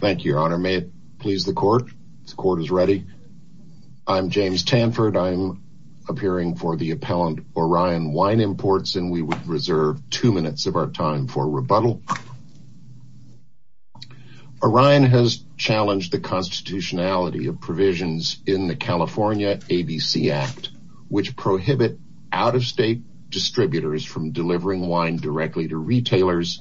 Thank you, Your Honor. May it please the court? The court is ready. I'm James Tanford. I'm appearing for the appellant Orion Wine Imports, and we would reserve two minutes of our time for rebuttal. Orion has challenged the constitutionality of provisions in the California ABC Act, which prohibit out-of-state distributors from delivering wine directly to retailers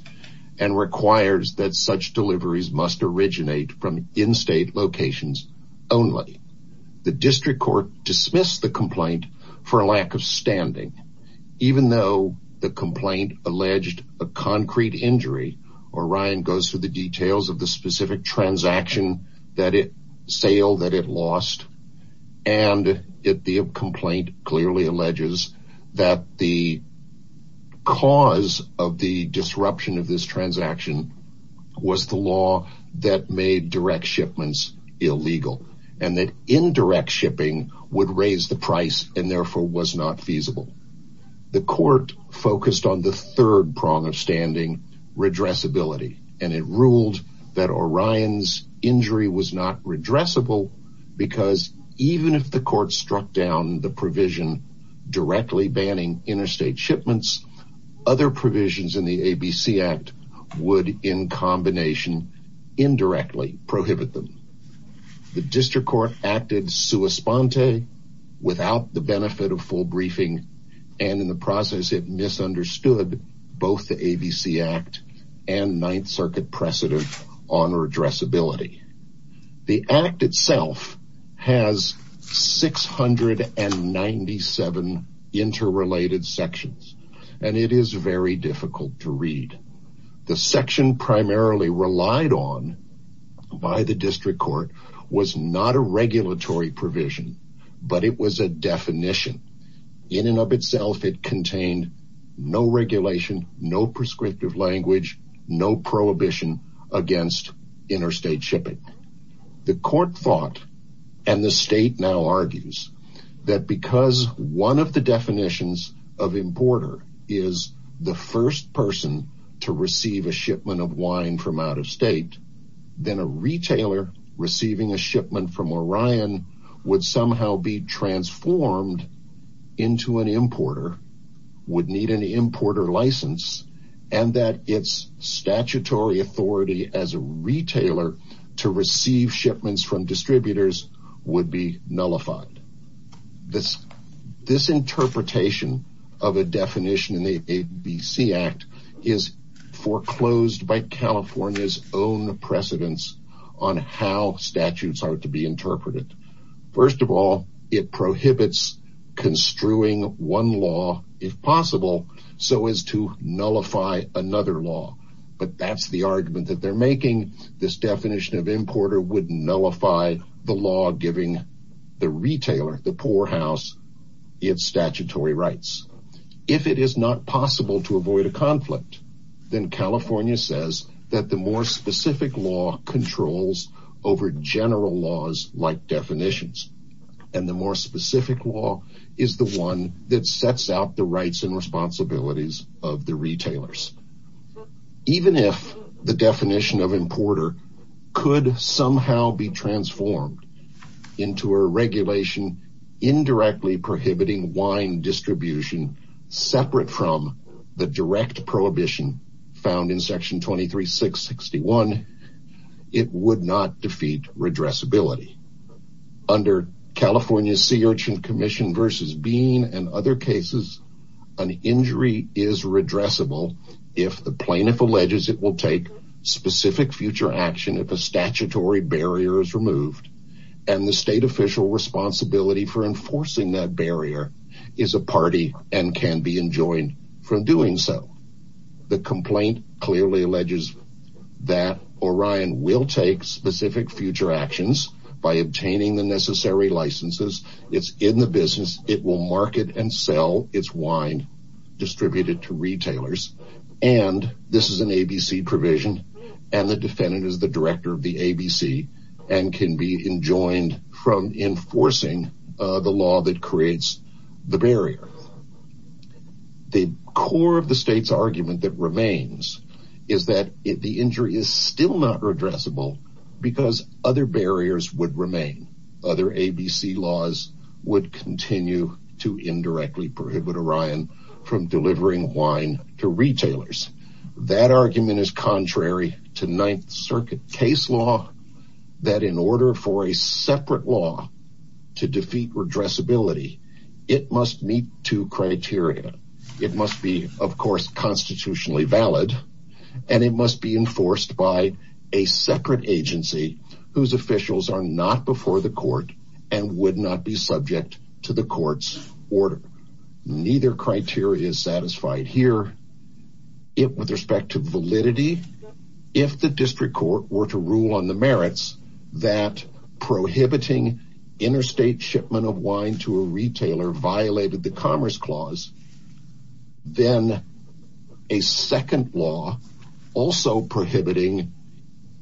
and requires that such deliveries must originate from in-state locations only. The district court dismissed the complaint for a lack of standing, even though the complaint alleged a concrete injury. Orion goes through the details of the specific transaction that it transaction was the law that made direct shipments illegal and that indirect shipping would raise the price and therefore was not feasible. The court focused on the third prong of standing, redressability, and it ruled that Orion's injury was not redressable because even if the court struck down the provision directly banning interstate shipments, other provisions in the ABC Act would in combination indirectly prohibit them. The district court acted sua sponte without the benefit of full briefing, and in the process it misunderstood both the ABC Act and Ninth Circuit precedent on redressability. The Act itself has 697 interrelated sections, and it is very difficult to read. The section primarily relied on by the district court was not a regulatory provision, but it was a definition. In and of itself, it contained no regulation, no prescriptive language, no prohibition against interstate shipping. The court thought, and the state now argues, that because one of the definitions of importer is the first person to receive a shipment of wine from out of state, then a retailer receiving a shipment from Orion would somehow be transformed into an importer, would need an importer license, and that its statutory authority as a retailer to receive shipments from distributors would be nullified. This interpretation of a definition in the ABC Act is foreclosed by California's own precedents on how statutes are to be interpreted. First of all, it prohibits construing one law, if possible, so as to nullify another law, but that's the argument that they're making. This definition of importer would nullify the law giving the retailer, the poorhouse, its statutory rights. If it is not possible to avoid a conflict, then California says that the more specific law controls over general laws like definitions, and the more specific law is the one that sets out the rights and responsibilities of the retailers. Even if the definition of importer could somehow be transformed into a regulation indirectly prohibiting wine distribution separate from the direct prohibition found in section 23-661, it would not defeat redressability. Under California's Sea Urchin Commission versus Bean and other cases, an injury is redressable if the plaintiff alleges it will take specific future action if a statutory barrier is removed, and the state official responsibility for enforcing that barrier is a party and can be enjoined from doing so. The complaint clearly alleges that Orion will take specific future actions by obtaining the necessary licenses. It's in the business. It will market and sell its wine distributed to retailers, and this is an ABC provision, and the defendant is the director of the ABC and can be enjoined from enforcing the law that creates the barrier. The core of the state's argument that remains is that the injury is still not redressable because other barriers would remain. Other ABC laws would continue to indirectly prohibit Orion from delivering wine to retailers. That argument is valid, and it must be enforced by a separate agency whose officials are not before the court and would not be subject to the court's order. Neither criteria is satisfied here. With respect to validity, if the district court were to rule on the merits that prohibiting interstate shipment of wine to a retailer violated the Commerce Clause, then a second law also prohibiting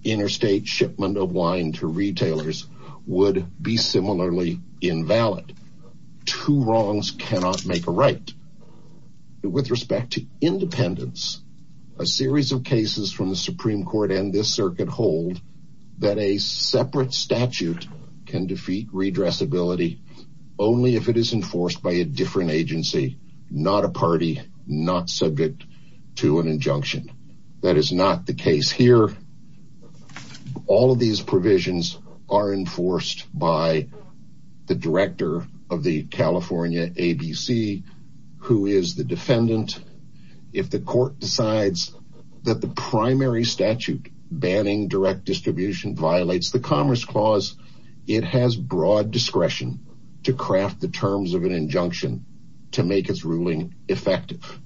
interstate shipment of wine to retailers would be similarly invalid. Two wrongs cannot make a right. With respect to independence, a series of cases from the Supreme Court and this circuit hold that a separate statute can defeat redressability only if it is enforced by a different agency, not a party, not subject to an injunction. That is not the case here. All of these provisions are enforced by the director of the banning direct distribution violates the Commerce Clause. It has broad discretion to craft the terms of an injunction to make its ruling effective.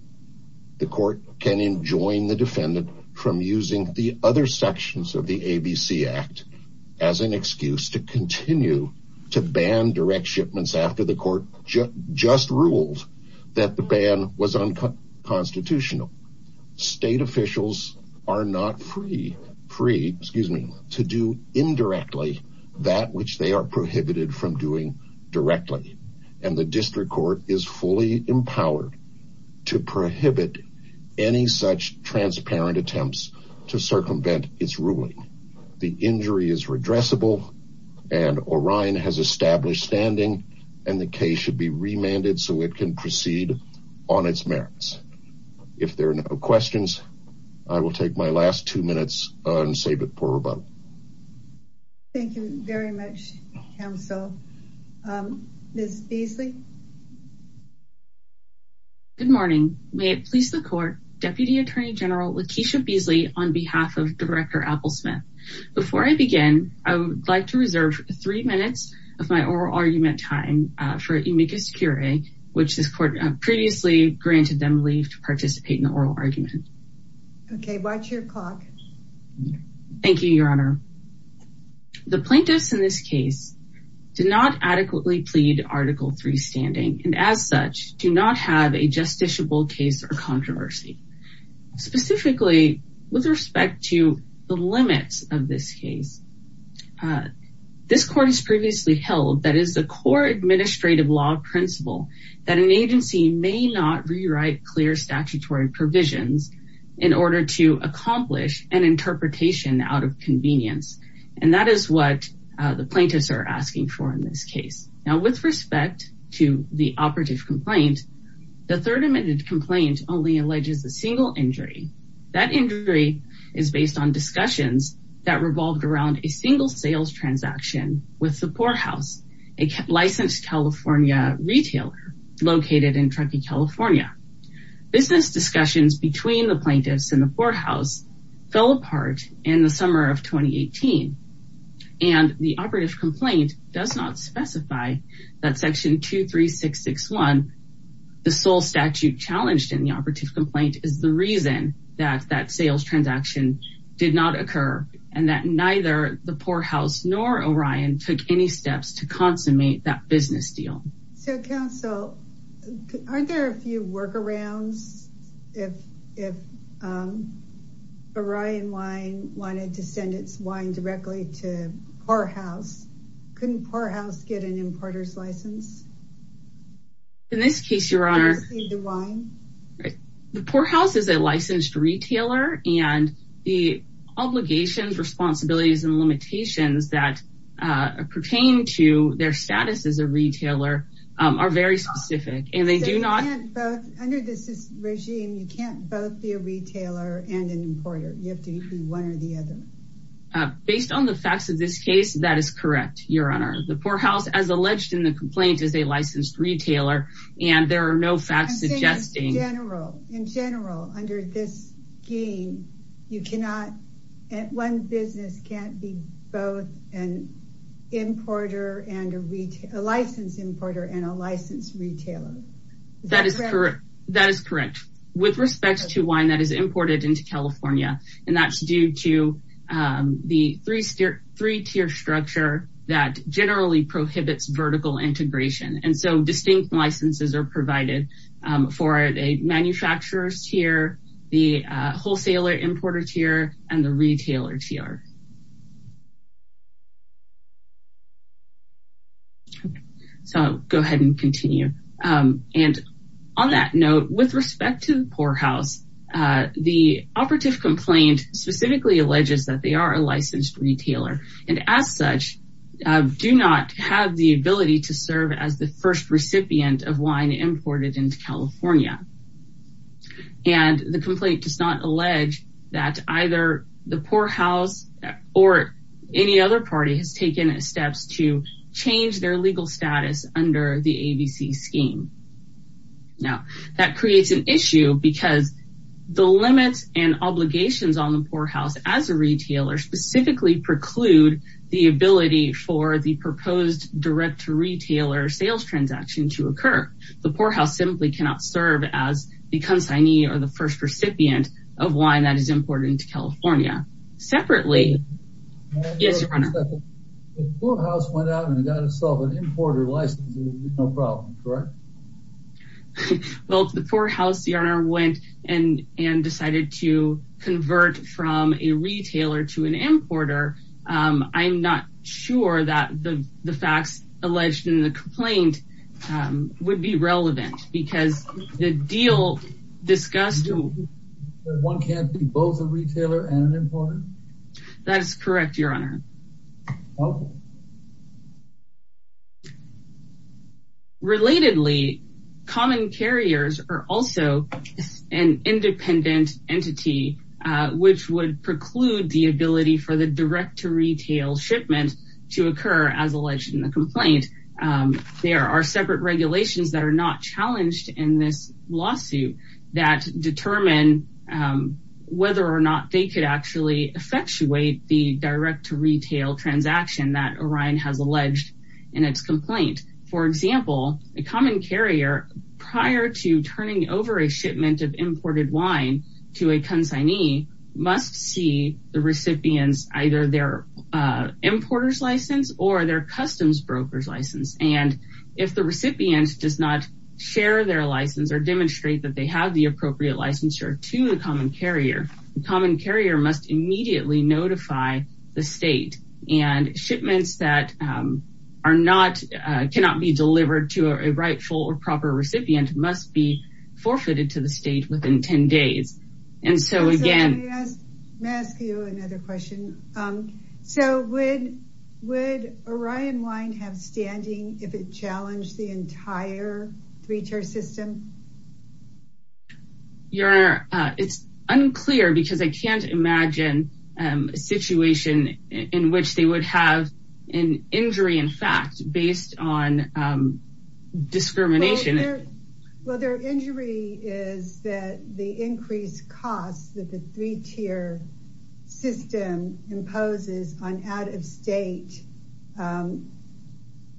The court can enjoin the defendant from using the other sections of the ABC Act as an excuse to continue to ban direct shipments after the court just ruled that the ban was unconstitutional. State officials are not free to do indirectly that which they are prohibited from doing directly, and the district court is fully empowered to prohibit any such transparent attempts to circumvent its ruling. The injury is redressable, and Orion has established standing, and the case should be remanded so it can proceed on its merits. If there are no questions, I will take my last two minutes and save it for about. Thank you very much, counsel. Ms. Beasley. Good morning. May it please the court, Deputy Attorney General Lakeisha Beasley on behalf of Director Applesmith. Before I begin, I would like to reserve three minutes of my oral argument time for amicus curiae, which this court previously granted them leave to participate in Watch your clock. Thank you, Your Honor. The plaintiffs in this case did not adequately plead article three standing and as such do not have a justiciable case or controversy, specifically with respect to the limits of this case. This court has previously held that is the core administrative law principle that an agency may not rewrite clear statutory provisions in order to accomplish an interpretation out of convenience, and that is what the plaintiffs are asking for in this case. Now, with respect to the operative complaint, the third amendment complaint only alleges a single injury. That injury is based on discussions that revolved around a single sales transaction with Support House, a licensed California retailer located in Truckee, California. Business discussions between the plaintiffs and the courthouse fell apart in the summer of 2018, and the operative complaint does not specify that section 23661, the sole statute challenged in the operative complaint, is the reason that that sales transaction did not occur and that neither the poor house nor Orion took any steps to consummate that business deal. So, counsel, aren't there a few workarounds if Orion Wine wanted to send its wine directly to poor house? Couldn't poor house get an importer's license? In this case, your honor, the wine, the poor house is a licensed retailer and the obligations, responsibilities, and limitations that pertain to their status as a retailer are very specific, and they do not... Under this regime, you can't both be a retailer and an importer. You have to be one or the other. Based on the facts of this case, that is correct, your honor. The poor house, as alleged in the complaint, is a licensed retailer, and there are no facts suggesting... An importer and a retailer, a licensed importer and a licensed retailer. That is correct. That is correct. With respect to wine that is imported into California, and that's due to the three-tier structure that generally prohibits vertical integration, and so distinct licenses are provided for a manufacturer's tier, the wholesaler importer tier, and the retailer tier. Okay. So, go ahead and continue. And on that note, with respect to the poor house, the operative complaint specifically alleges that they are a licensed retailer, and as such, do not have the ability to serve as the first recipient of wine imported into California. And the complaint does not allege that either the poor house or any other party has taken steps to change their legal status under the ABC scheme. Now, that creates an issue because the limits and obligations on the poor house as a retailer specifically preclude the ability for the proposed direct-to-retailer sales transaction to occur. The poor house simply cannot serve as the consignee or the first recipient of wine that is imported into California. Separately... Yes, your honor. The poor house went out and got itself an importer license, no problem, correct? Well, if the poor house, your honor, went and decided to convert from a retailer to an importer, I'm not sure that the facts alleged in the complaint would be relevant because deal discussed... One can't be both a retailer and an importer? That is correct, your honor. Relatedly, common carriers are also an independent entity which would preclude the ability for the direct-to-retail shipment to occur as alleged in the complaint. There are separate regulations that are not challenged in this lawsuit that determine whether or not they could actually effectuate the direct-to-retail transaction that Orion has alleged in its complaint. For example, a common carrier prior to turning over a shipment of imported wine to a consignee must see the recipients either their importer's license or their customs broker's license. And if the recipient does not share their license or demonstrate that they have the appropriate licensure to the common carrier, the common carrier must immediately notify the state. And shipments that cannot be delivered to a rightful or proper recipient must be forfeited to the state within 10 days. And so again... May I ask you another question? So would Orion Wine have standing if it challenged the entire three-tier system? Your honor, it's unclear because I can't imagine a situation in which they would have an injury in fact based on discrimination. Well, their injury is that the increased costs that the three-tier system imposes on out-of-state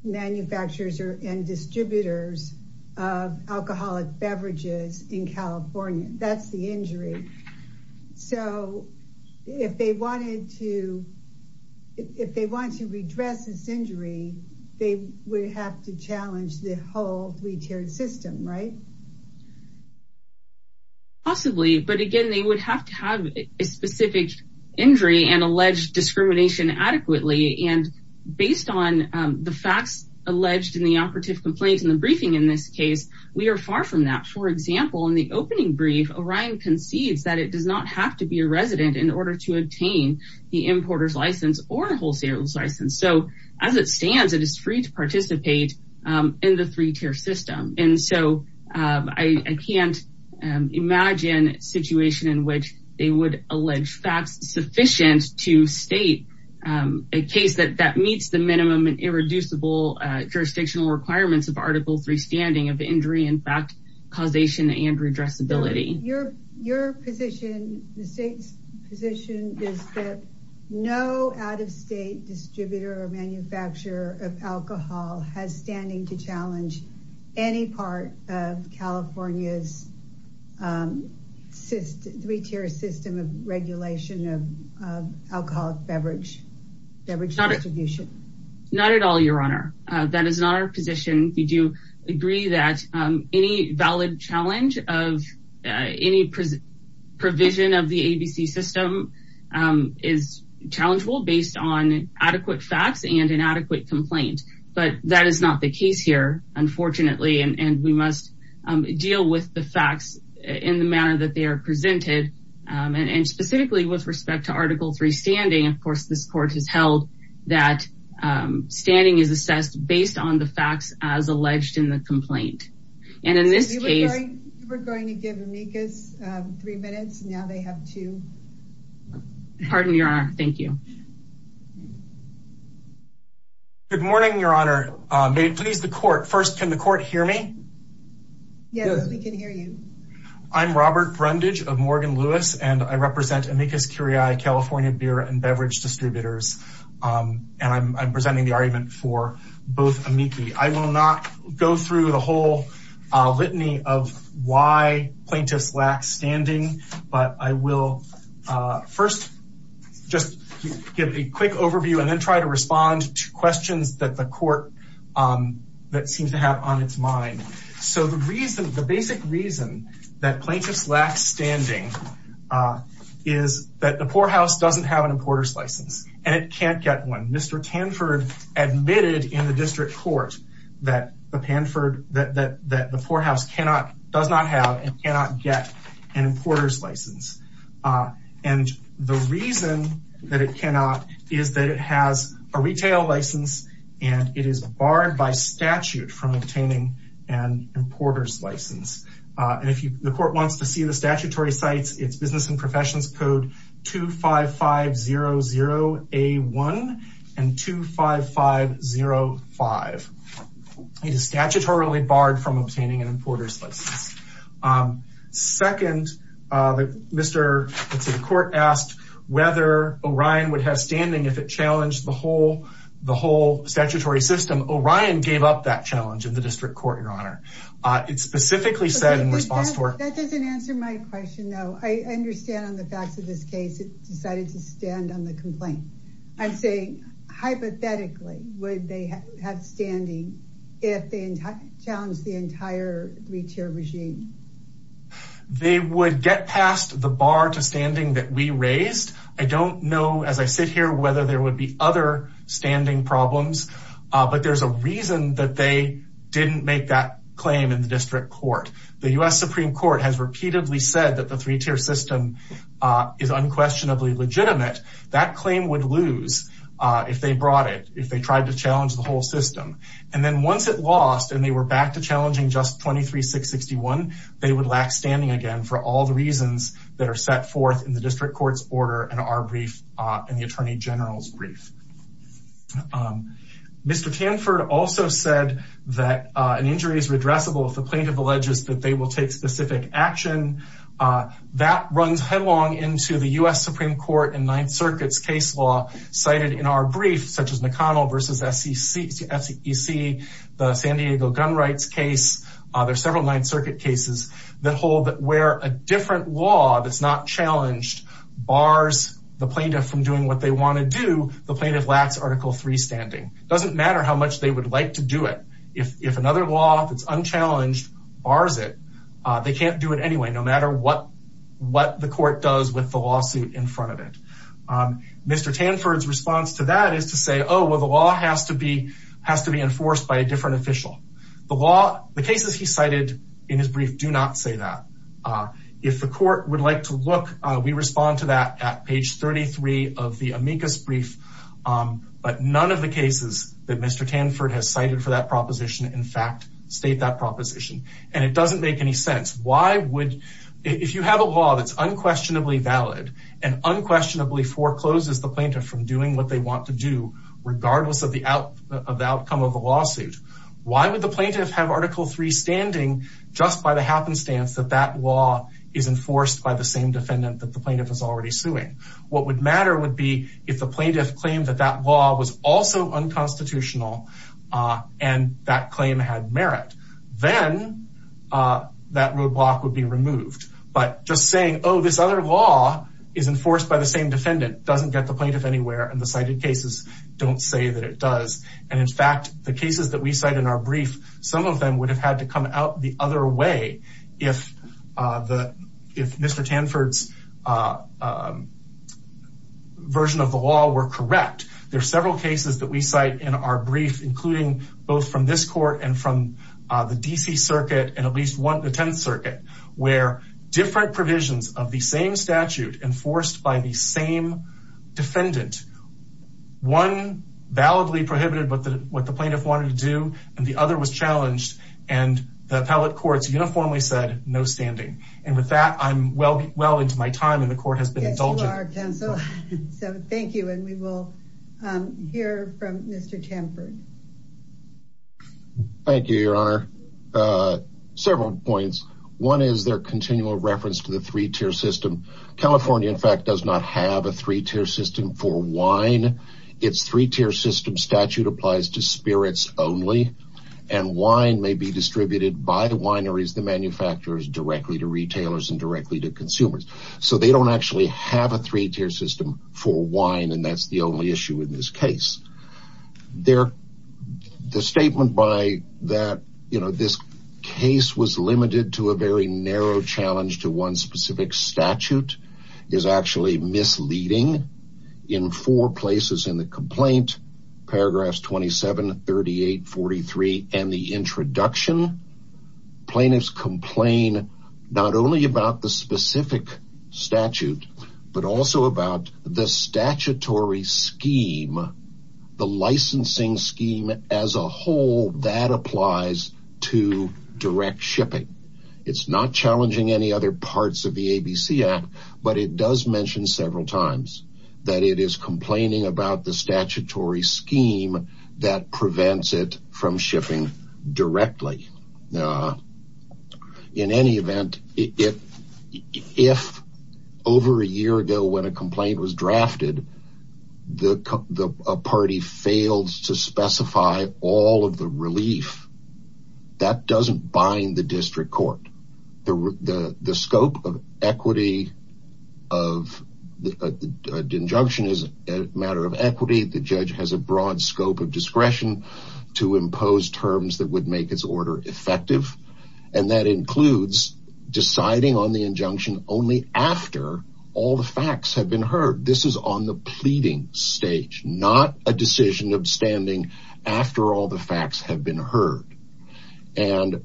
manufacturers and distributors of alcoholic beverages in California. That's the injury. So if they wanted to redress this injury, they would have to challenge the whole three-tier system, right? Possibly. But again, they would have to have a specific injury and allege discrimination adequately. And based on the facts alleged in the operative complaints in the briefing in this case, we are far from that. For example, in the opening brief, Orion concedes that it does not have to be a resident in order to obtain the importer's license or a wholesaler's license. So as it I can't imagine a situation in which they would allege facts sufficient to state a case that meets the minimum and irreducible jurisdictional requirements of Article 3 standing of injury in fact causation and redressability. Your position, the state's position, is that no out-of-state distributor or manufacturer of alcohol has standing to challenge any part of California's three-tier system of regulation of alcoholic beverage distribution? Not at all, Your Honor. That is not our position. We do agree that any valid challenge of any provision of the ABC system is challengeable based on adequate facts and an adequate complaint. But that is not the case here, unfortunately. And we must deal with the facts in the manner that they are presented. And specifically with respect to Article 3 standing, of course, this Court has held that standing is assessed based on the facts as alleged in the complaint. And in this case... We're going to give amicus three minutes. Now they have two. Pardon, Your Honor. Thank you. Good morning, Your Honor. May it please the Court. First, can the Court hear me? Yes, we can hear you. I'm Robert Brundage of Morgan Lewis and I represent Amicus Curiae California Beer and Beverage Distributors. And I'm presenting the argument for both amici. I will not go through the whole litany of why plaintiffs lack standing, but I will first just give a quick overview and then try to respond to questions that the Court that seems to have on its mind. So the reason, the basic reason that plaintiffs lack standing is that the poor house doesn't have an importer's license and it can't get one. Mr. Tanford admitted in the District Court that the poor house does not have and cannot get an importer's license. And the reason that it cannot is that it has a retail license and it is barred by statute from obtaining an importer's license. And if the Court wants to see the 5505, it is statutorily barred from obtaining an importer's license. Second, the Court asked whether Orion would have standing if it challenged the whole statutory system. Orion gave up that challenge in the District Court, Your Honor. It specifically said in response to our... That doesn't answer my question, though. I understand on the facts of this case, it decided to stand on the complaint. I'm saying hypothetically, they have standing if they challenge the entire three-tier regime. They would get past the bar to standing that we raised. I don't know as I sit here whether there would be other standing problems, but there's a reason that they didn't make that claim in the District Court. The U.S. Supreme Court has repeatedly said that the three-tier system is unquestionably legitimate. That claim would lose if they brought it, if they tried to challenge the whole system. And then once it lost and they were back to challenging just 23661, they would lack standing again for all the reasons that are set forth in the District Court's order and our brief and the Attorney General's brief. Mr. Tanford also said that an injury is redressable if the plaintiff alleges that they will take specific action. That runs headlong into the U.S. Supreme Court and Ninth Circuit's case law, cited in our brief, such as McConnell v. SEC, the San Diego gun rights case. There are several Ninth Circuit cases that hold that where a different law that's not challenged bars the plaintiff from doing what they want to do, the plaintiff lacks Article III standing. It doesn't matter how much they would like to do it. If another law that's unchallenged bars it, they can't do it anyway, no matter what the court does with the lawsuit in front of it. Mr. Tanford's response to that is to say, oh, well, the law has to be enforced by a different official. The cases he cited in his brief do not say that. If the court would like to look, we respond to that at page 33 of the amicus brief. But none of the cases that Mr. Tanford has cited for that proposition. And it doesn't make any sense. If you have a law that's unquestionably valid and unquestionably forecloses the plaintiff from doing what they want to do, regardless of the outcome of the lawsuit, why would the plaintiff have Article III standing just by the happenstance that that law is enforced by the same defendant that the plaintiff is already suing? What would matter would be if the plaintiff claimed that that law was also unconstitutional and that claim had merit. Then that roadblock would be removed. But just saying, oh, this other law is enforced by the same defendant doesn't get the plaintiff anywhere, and the cited cases don't say that it does. And in fact, the cases that we cite in our brief, some of them would have had to come out the other way if Mr. Tanford's version of the law were correct. There are several cases that we cite in our brief, including both from this court and from the D.C. Circuit and at least the 10th Circuit, where different provisions of the same statute enforced by the same defendant. One validly prohibited what the plaintiff wanted to do, and the other was challenged, and the appellate courts uniformly said no standing. And with that, I'm well into my time, and the court has been indulgent. Yes, you are, counsel. So thank you, and we will hear from Mr. Tanford. Thank you, Your Honor. Several points. One is their continual reference to the three-tier system. California, in fact, does not have a three-tier system for wine. Its three-tier system statute applies to spirits only, and wine may be distributed by the wineries, the manufacturers, directly to retailers and directly to consumers. So they don't actually have a three-tier system for wine, and that's the only issue in this case. The statement by that, you know, this case was limited to a very narrow challenge to one specific statute is actually misleading. In four places in the complaint, paragraphs 27, 38, 43, and the but also about the statutory scheme, the licensing scheme as a whole that applies to direct shipping. It's not challenging any other parts of the ABC Act, but it does mention several times that it is complaining about the statutory scheme that prevents it from shipping directly. In any event, if over a year ago when a complaint was drafted, the party failed to specify all of the relief, that doesn't bind the district court. The scope of equity of the injunction is a matter of equity. The judge has a broad scope of discretion to impose terms that would make his order effective, and that includes deciding on the injunction only after all the facts have been heard. This is on the pleading stage, not a decision of standing after all the facts have been heard. And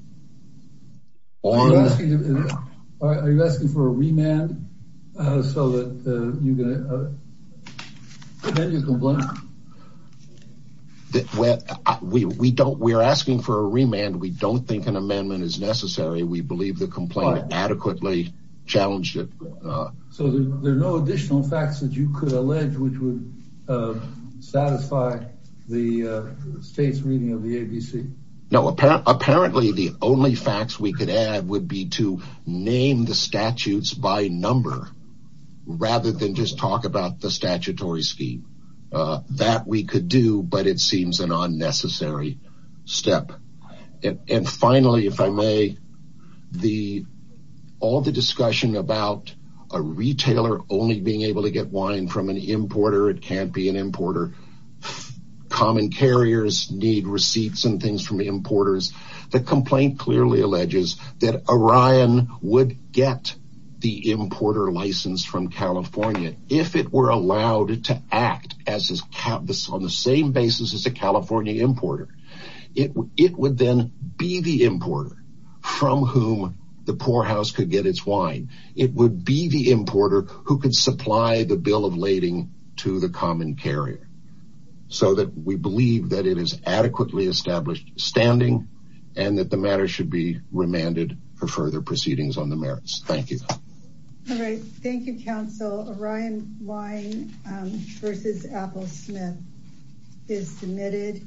Are you asking for a remand so that you can continue the complaint? We're asking for a remand. We don't think an amendment is necessary. We believe the complaint adequately challenged it. So there are no additional facts that you could allege which would satisfy the state's reading of the ABC? No, apparently the only facts we could add would be to name the statutes by number rather than just talk about the statutory scheme. That we could do, but it seems an unnecessary step. And finally, if I may, all the discussion about a retailer only being able to get wine from an importer, it can't be an importer. Common carriers need receipts and things from importers. The complaint clearly alleges that Orion would get the importer license from California if it were allowed to act on the same basis as a California importer. It would then be the importer from whom the poorhouse could get its wine. It would be the supply the bill of lading to the common carrier so that we believe that it is adequately established standing and that the matter should be remanded for further proceedings on the merits. Thank you. All right. Thank you, counsel. Orion Wine versus Apple Smith is submitted.